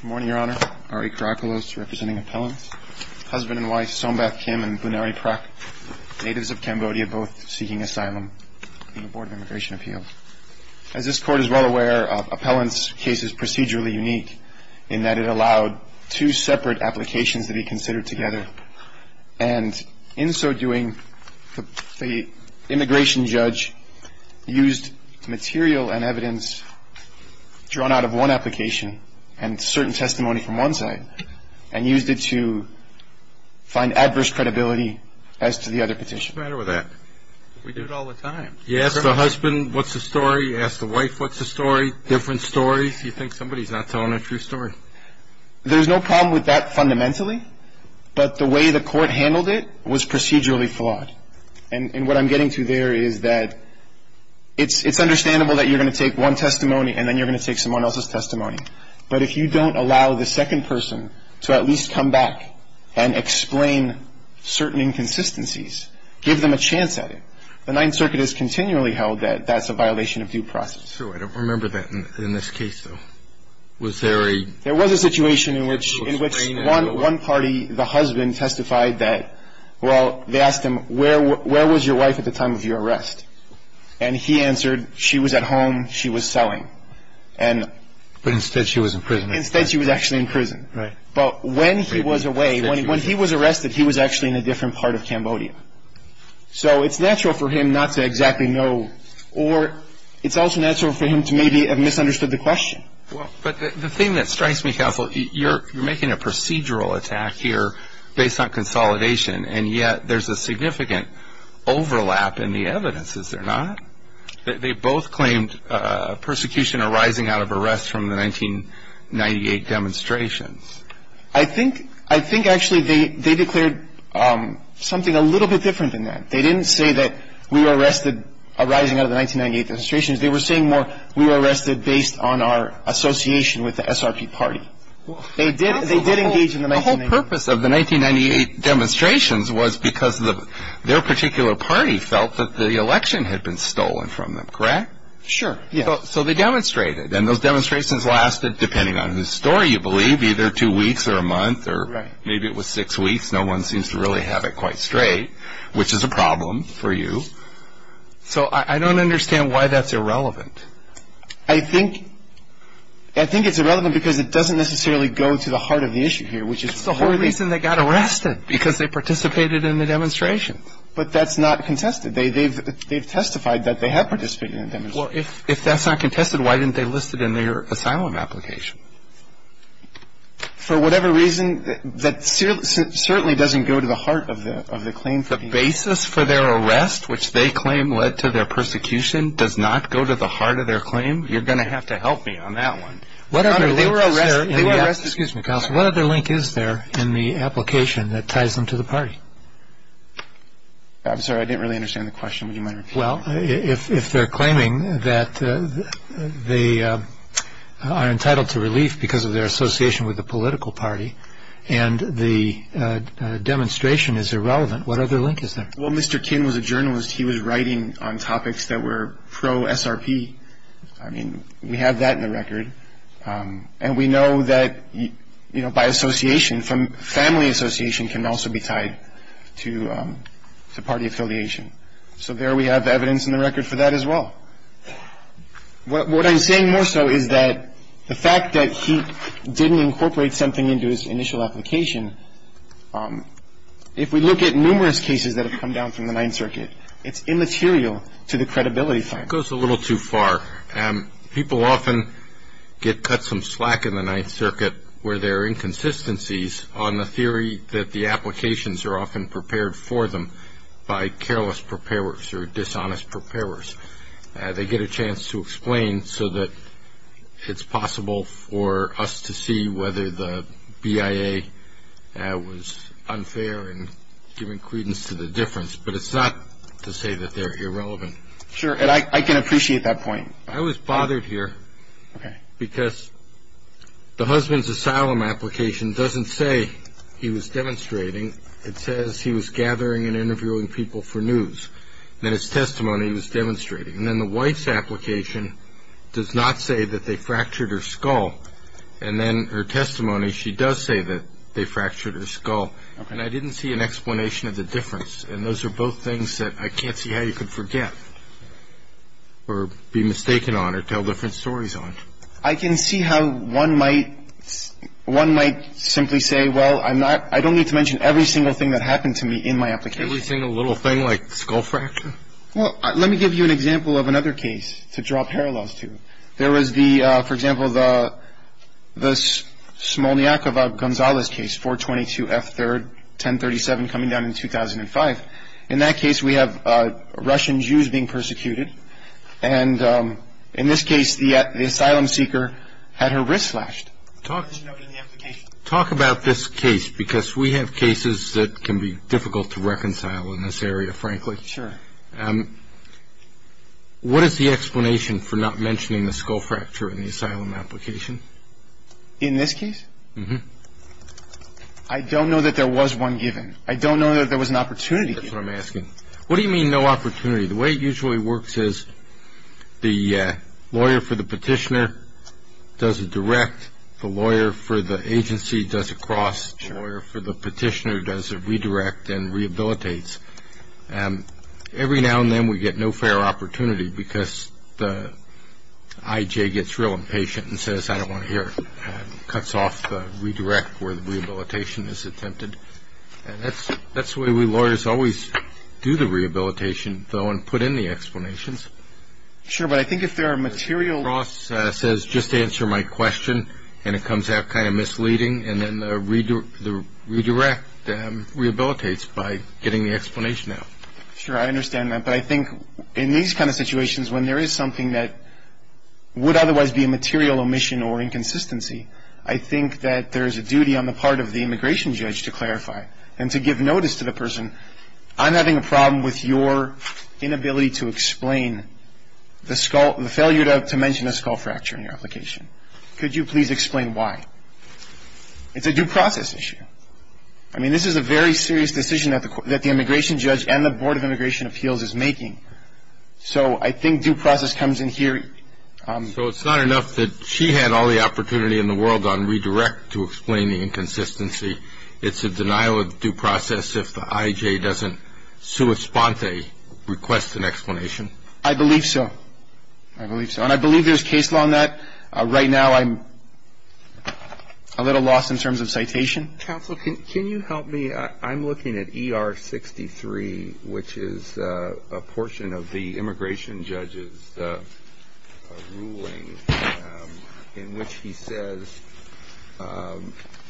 Good morning, Your Honor. Ari Karakalos, representing appellants. Husband and wife, Sombath Kim and Bunari Prak, natives of Cambodia, both seeking asylum in the Board of Immigration Appeals. As this Court is well aware, appellants' case is procedurally unique in that it allowed two separate applications to be considered together. And in so doing, the immigration judge used material and evidence drawn out of one application and certain testimony from one side, and used it to find adverse credibility as to the other petition. What's the matter with that? We do it all the time. You ask the husband what's the story, you ask the wife what's the story, different stories, you think somebody's not telling a true story. There's no problem with that fundamentally, but the way the Court handled it was procedurally flawed. And what I'm getting to there is that it's understandable that you're going to take one testimony and then you're going to take someone else's testimony. But if you don't allow the second person to at least come back and explain certain inconsistencies, give them a chance at it, the Ninth Circuit has continually held that that's a violation of due process. So I don't remember that in this case, though. Was there a... There was a situation in which one party, the husband, testified that, well, they asked him, where was your wife at the time of your arrest? And he answered, she was at home, she was selling. But instead she was in prison. Instead she was actually in prison. Right. But when he was away, when he was arrested, he was actually in a different part of Cambodia. So it's natural for him not to exactly know, or it's also natural for him to maybe have misunderstood the question. But the thing that strikes me, counsel, you're making a procedural attack here based on consolidation, and yet there's a significant overlap in the evidence, is there not? They both claimed persecution arising out of arrest from the 1998 demonstration. I think actually they declared something a little bit different than that. They didn't say that we were arrested arising out of the 1998 demonstrations. They were saying more we were arrested based on our association with the SRP party. They did engage in the 1998... The whole purpose of the 1998 demonstrations was because their particular party felt that the election had been stolen from them, correct? Sure, yes. So they demonstrated, and those demonstrations lasted, depending on whose story you believe, either two weeks or a month or maybe it was six weeks. No one seems to really have it quite straight, which is a problem for you. So I don't understand why that's irrelevant. I think it's irrelevant because it doesn't necessarily go to the heart of the issue here, which is... It's the whole reason they got arrested, because they participated in the demonstration. But that's not contested. They've testified that they have participated in the demonstration. Well, if that's not contested, why didn't they list it in their asylum application? For whatever reason, that certainly doesn't go to the heart of the claim. The basis for their arrest, which they claim led to their persecution, does not go to the heart of their claim. You're going to have to help me on that one. What other link is there in the application that ties them to the party? I'm sorry, I didn't really understand the question. Well, if they're claiming that they are entitled to relief because of their association with the political party and the demonstration is irrelevant, what other link is there? Well, Mr. King was a journalist. He was writing on topics that were pro-SRP. I mean, we have that in the record. And we know that by association, family association can also be tied to party affiliation. So there we have evidence in the record for that as well. What I'm saying more so is that the fact that he didn't incorporate something into his initial application, if we look at numerous cases that have come down from the Ninth Circuit, it's immaterial to the credibility finding. It goes a little too far. People often get cut some slack in the Ninth Circuit where there are inconsistencies on the theory that the applications are often prepared for them by careless preparers or dishonest preparers. They get a chance to explain so that it's possible for us to see whether the BIA was unfair and giving credence to the difference. But it's not to say that they're irrelevant. Sure, and I can appreciate that point. I was bothered here because the husband's asylum application doesn't say he was demonstrating. It says he was gathering and interviewing people for news, that his testimony was demonstrating. And then the wife's application does not say that they fractured her skull. And then her testimony, she does say that they fractured her skull. And I didn't see an explanation of the difference. And those are both things that I can't see how you could forget or be mistaken on or tell different stories on. I can see how one might simply say, well, I don't need to mention every single thing that happened to me in my application. Every single little thing like skull fracture? Well, let me give you an example of another case to draw parallels to. There was the, for example, the Smolniakova-Gonzalez case, 422F3rd, 1037, coming down in 2005. In that case, we have Russian Jews being persecuted. And in this case, the asylum seeker had her wrist slashed. Talk about this case because we have cases that can be difficult to reconcile in this area, frankly. Sure. What is the explanation for not mentioning the skull fracture in the asylum application? In this case? Mm-hmm. I don't know that there was one given. I don't know that there was an opportunity given. That's what I'm asking. What do you mean no opportunity? The way it usually works is the lawyer for the petitioner does a direct. The lawyer for the agency does a cross. Sure. The lawyer for the petitioner does a redirect and rehabilitates. Every now and then we get no fair opportunity because the IJ gets real impatient and says, I don't want to hear it, cuts off the redirect where the rehabilitation is attempted. And that's the way we lawyers always do the rehabilitation, though, and put in the explanations. Sure. But I think if there are material... The cross says, just answer my question, and it comes out kind of misleading. And then the redirect rehabilitates by getting the explanation out. Sure. I understand that. But I think in these kind of situations when there is something that would otherwise be a material omission or inconsistency, I think that there is a duty on the part of the immigration judge to clarify and to give notice to the person. I'm having a problem with your inability to explain the skull, the failure to mention a skull fracture in your application. Could you please explain why? It's a due process issue. I mean, this is a very serious decision that the immigration judge and the Board of Immigration Appeals is making. So I think due process comes in here... So it's not enough that she had all the opportunity in the world on redirect to explain the inconsistency. It's a denial of due process if the IJ doesn't sua sponte, request an explanation. I believe so. I believe so. I'm not, right now I'm a little lost in terms of citation. Counsel, can you help me? I'm looking at ER 63, which is a portion of the immigration judge's ruling in which he says...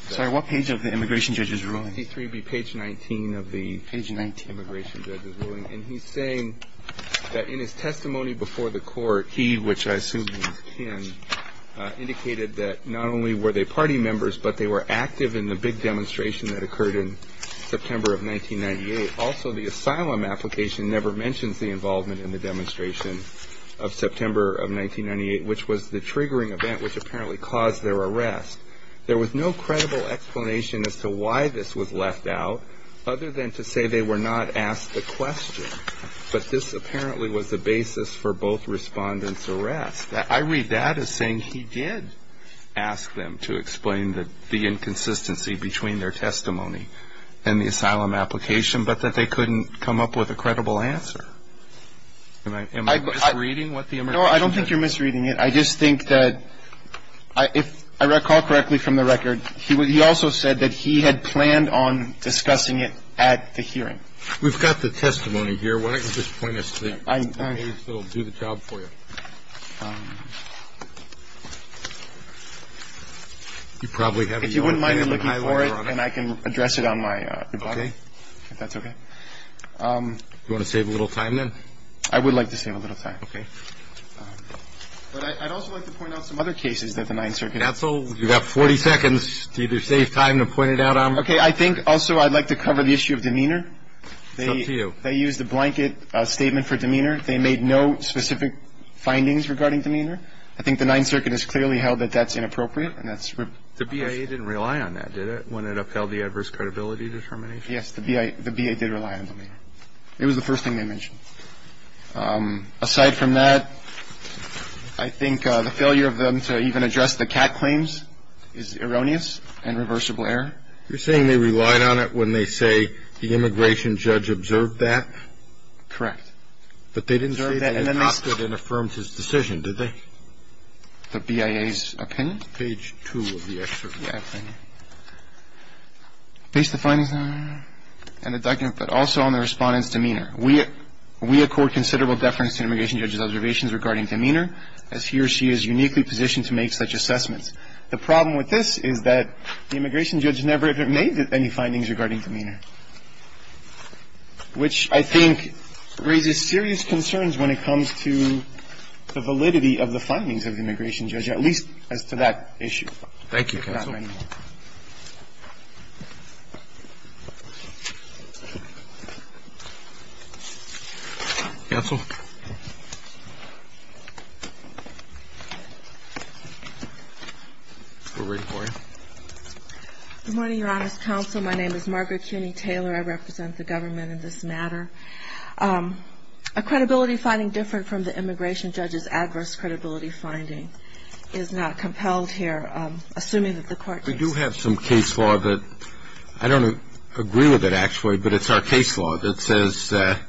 Sir, what page of the immigration judge's ruling? Page 19 of the immigration judge's ruling. And he's saying that in his testimony before the court, he, which I assume he was kin, indicated that not only were they party members, but they were active in the big demonstration that occurred in September of 1998. Also, the asylum application never mentions the involvement in the demonstration of September of 1998, which was the triggering event which apparently caused their arrest. There was no credible explanation as to why this was left out, other than to say they were not asked the question. But this apparently was the basis for both respondents' arrest. I read that as saying he did ask them to explain the inconsistency between their testimony and the asylum application, but that they couldn't come up with a credible answer. Am I misreading what the immigration judge said? No, I don't think you're misreading it. I just think that if I recall correctly from the record, he also said that he had planned on discussing it at the hearing. We've got the testimony here. Why don't you just point us to the page that will do the job for you? You probably have it. If you wouldn't mind, I'm looking for it, and I can address it on my rebuttal, if that's okay. Okay. Do you want to save a little time then? I would like to save a little time. Okay. But I'd also like to point out some other cases that the Ninth Circuit. That's all? You've got 40 seconds to either save time to point it out or not. Okay. I think also I'd like to cover the issue of demeanor. It's up to you. They used a blanket statement for demeanor. They made no specific findings regarding demeanor. I think the Ninth Circuit has clearly held that that's inappropriate and that's. The BIA didn't rely on that, did it, when it upheld the adverse credibility determination? Yes. The BIA did rely on it. It was the first thing they mentioned. I think the failure of them to even address the cat claims is erroneous and reversible error. You're saying they relied on it when they say the immigration judge observed that? Correct. But they didn't say that they adopted and affirmed his decision, did they? The BIA's opinion? Page 2 of the excerpt. The BIA's opinion. Based the findings on an indictment but also on the Respondent's demeanor. We accord considerable deference to an immigration judge's observations regarding demeanor, as he or she is uniquely positioned to make such assessments. The problem with this is that the immigration judge never even made any findings regarding demeanor, which I think raises serious concerns when it comes to the validity of the findings of the immigration judge, at least as to that issue. Thank you, counsel. Counsel? We're ready for you. Good morning, Your Honor's counsel. My name is Margaret Cuney Taylor. I represent the government in this matter. A credibility finding different from the immigration judge's adverse credibility finding is not compelled here, We do have some case law that I don't agree with it, actually, but it's our case law that says that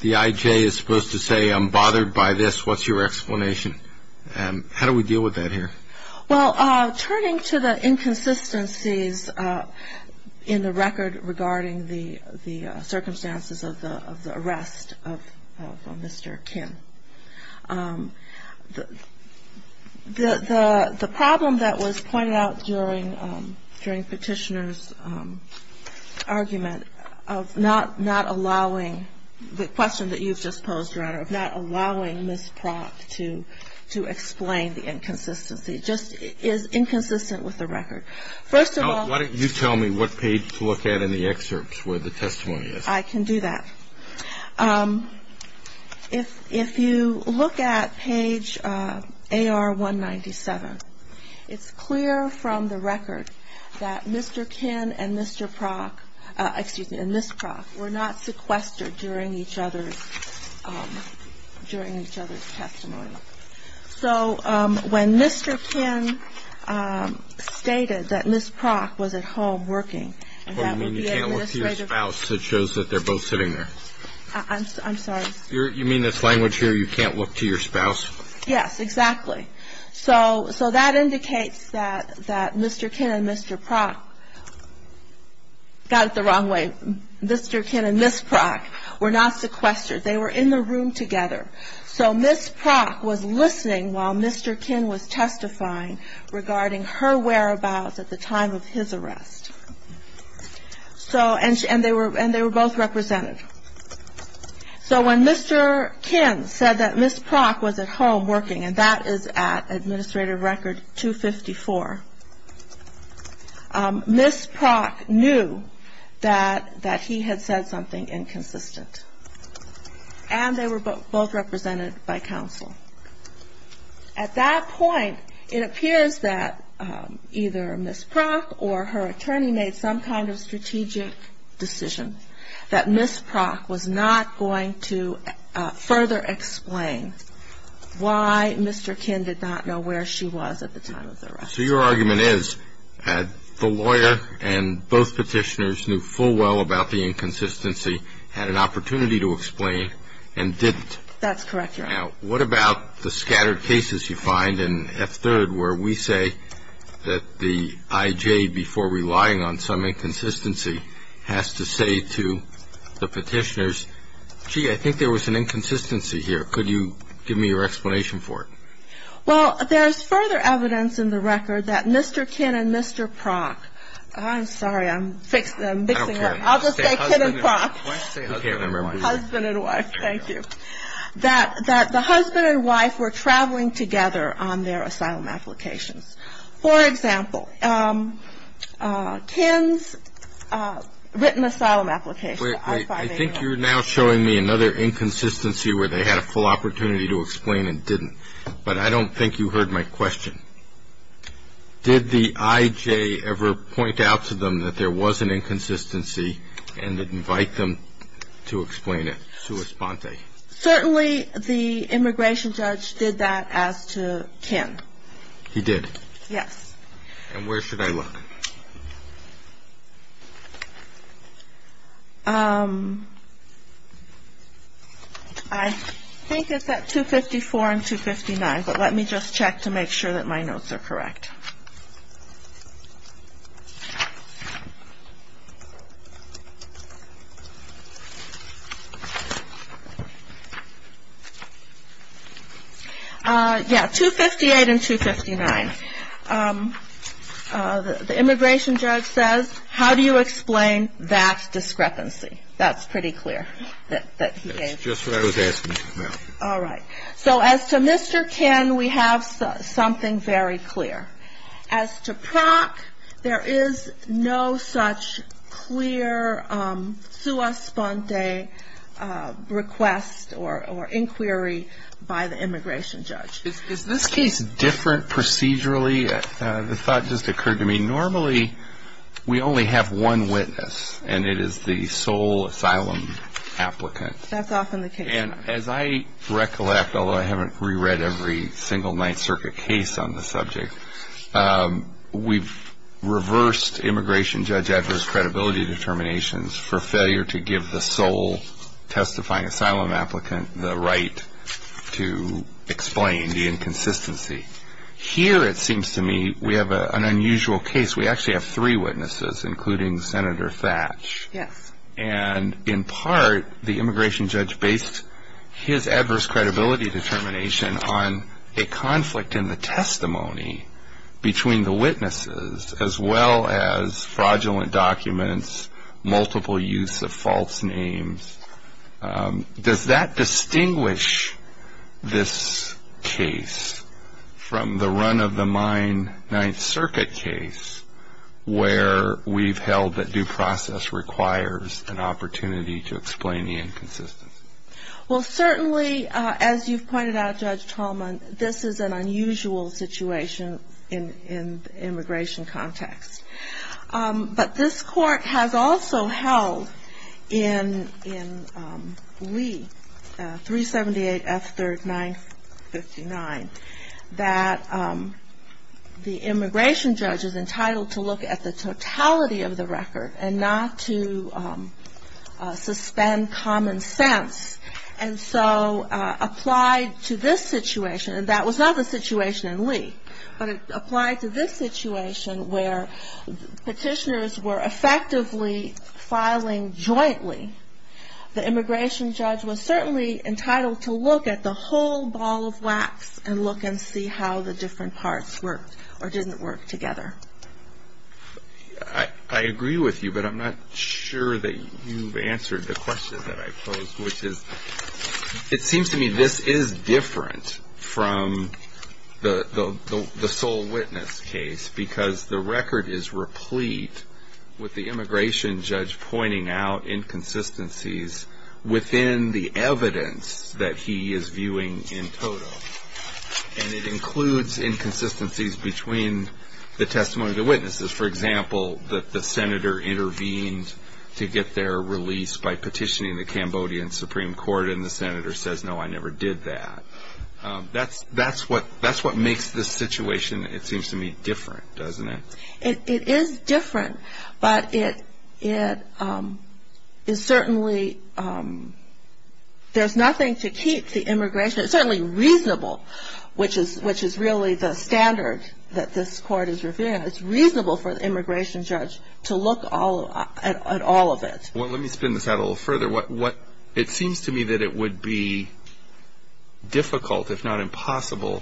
the IJ is supposed to say, I'm bothered by this, what's your explanation? How do we deal with that here? Well, turning to the inconsistencies in the record regarding the circumstances of the arrest of Mr. Kim, the problem that was pointed out during Petitioner's argument of not allowing the question that you've just posed, Your Honor, of not allowing Ms. Prock to explain the inconsistency, just is inconsistent with the record. First of all, Why don't you tell me what page to look at in the excerpts where the testimony is? I can do that. If you look at page AR-197, it's clear from the record that Mr. Kim and Ms. Prock were not sequestered during each other's testimony. So when Mr. Kim stated that Ms. Prock was at home working, Well, you mean you can't look to your spouse? It shows that they're both sitting there. I'm sorry. You mean this language here, you can't look to your spouse? Yes, exactly. So that indicates that Mr. Kim and Mr. Prock got it the wrong way. Mr. Kim and Ms. Prock were not sequestered. They were in the room together. So Ms. Prock was listening while Mr. Kim was testifying regarding her whereabouts at the time of his arrest. And they were both represented. So when Mr. Kim said that Ms. Prock was at home working, and that is at Administrative Record 254, Ms. Prock knew that he had said something inconsistent. And they were both represented by counsel. At that point, it appears that either Ms. Prock or her attorney made some kind of strategic decision that Ms. Prock was not going to further explain why Mr. Kim did not know where she was at the time of the arrest. So your argument is that the lawyer and both petitioners knew full well about the inconsistency, had an opportunity to explain, and didn't. That's correct, Your Honor. Now, what about the scattered cases you find in F-3rd where we say that the IJ, before relying on some inconsistency, has to say to the petitioners, gee, I think there was an inconsistency here, could you give me your explanation for it? Well, there's further evidence in the record that Mr. Kim and Mr. Prock, I'm sorry, I'm mixing them up, I'll just say Kim and Prock, husband and wife, thank you, that the husband and wife were traveling together on their asylum applications. For example, Kim's written asylum application. I think you're now showing me another inconsistency where they had a full opportunity to explain and didn't. But I don't think you heard my question. Did the IJ ever point out to them that there was an inconsistency and invite them to explain it? Certainly the immigration judge did that as to Kim. He did? Yes. And where should I look? I think it's at 254 and 259, but let me just check to make sure that my notes are correct. Yeah, 258 and 259. The immigration judge says, how do you explain that discrepancy? That's pretty clear that he gave. That's just what I was asking. All right. So as to Mr. Kim, we have something very clear. As to Prock, there is no such clear sua sponte request or inquiry by the immigration judge. Is this case different procedurally? The thought just occurred to me. Normally we only have one witness, and it is the sole asylum applicant. That's often the case. And as I recollect, although I haven't reread every single Ninth Circuit case on the subject, we've reversed immigration judge Edwards' credibility determinations for failure to give the sole testifying asylum applicant the right to explain the inconsistency. Here it seems to me we have an unusual case. We actually have three witnesses, including Senator Thatch. Yes. And in part, the immigration judge based his adverse credibility determination on a conflict in the testimony between the witnesses as well as fraudulent documents, multiple use of false names. Does that distinguish this case from the run-of-the-mine Ninth Circuit case where we've held that due process requires an opportunity to explain the inconsistency? Well, certainly, as you've pointed out, Judge Tallman, this is an unusual situation in the immigration context. But this court has also held in Lee, 378 F3rd 959, that the immigration judge is entitled to look at the totality of the record and not to suspend common sense. And so applied to this situation, and that was not the situation in Lee, but applied to this situation where petitioners were effectively filing jointly, the immigration judge was certainly entitled to look at the whole ball of wax and look and see how the different parts worked or didn't work together. I agree with you, but I'm not sure that you've answered the question that I posed, which is it seems to me this is different from the sole witness case because the record is replete with the immigration judge pointing out inconsistencies within the evidence that he is viewing in total. And it includes inconsistencies between the testimony of the witnesses. For example, that the senator intervened to get their release by petitioning the Cambodian Supreme Court, and the senator says, no, I never did that. That's what makes this situation, it seems to me, different, doesn't it? It is different, but it is certainly, there's nothing to keep the immigration, it's certainly reasonable, which is really the standard that this court is reviewing. It's reasonable for the immigration judge to look at all of it. Well, let me spin this out a little further. It seems to me that it would be difficult, if not impossible,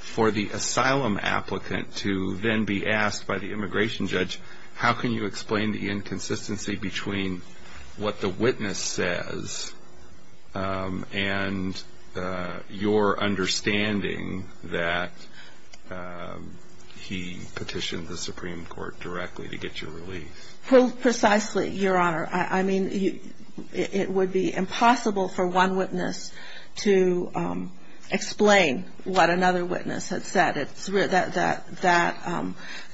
for the asylum applicant to then be asked by the immigration judge, how can you explain the inconsistency between what the witness says and your understanding that he petitioned the Supreme Court directly to get your release? Precisely, Your Honor. I mean, it would be impossible for one witness to explain what another witness had said. That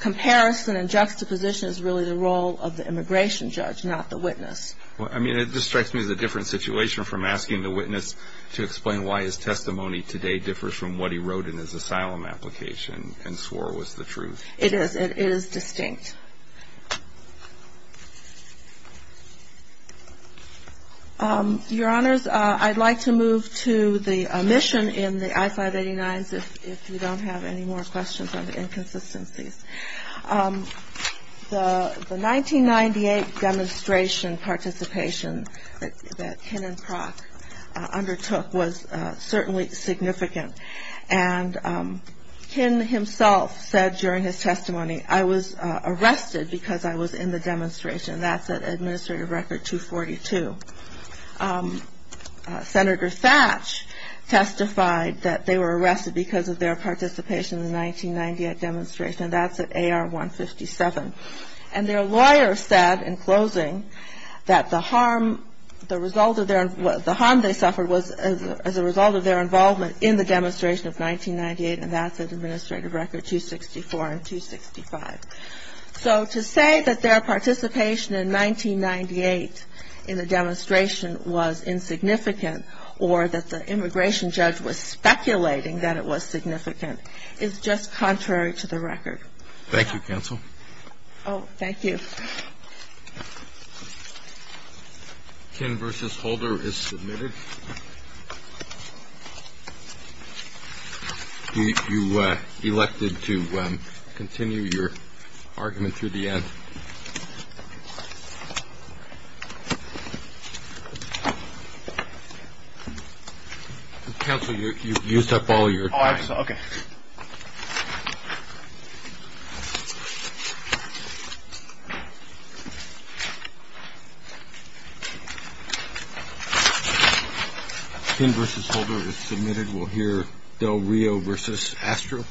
comparison and juxtaposition is really the role of the immigration judge, not the witness. I mean, it just strikes me as a different situation from asking the witness to explain why his testimony today differs from what he wrote in his asylum application and swore was the truth. It is. It is distinct. Your Honors, I'd like to move to the omission in the I-589s, if you don't have any more questions on the inconsistencies. The 1998 demonstration participation that Ken and Prock undertook was certainly significant. And Ken himself said during his testimony, I was arrested because I was in the demonstration. That's at Administrative Record 242. Senator Thatch testified that they were arrested because of their participation in the 1998 demonstration. That's at AR 157. And their lawyer said in closing that the harm they suffered was as a result of their involvement in the demonstration of 1998, and that's at Administrative Record 264 and 265. So to say that their participation in 1998 in the demonstration was insignificant or that the immigration judge was speculating that it was significant is just contrary to the record. Thank you, counsel. Oh, thank you. Ken versus Holder is submitted. You elected to continue your argument through the end. Counsel, you used up all your time. Okay. Ken versus Holder is submitted. We'll hear Del Rio versus Astro.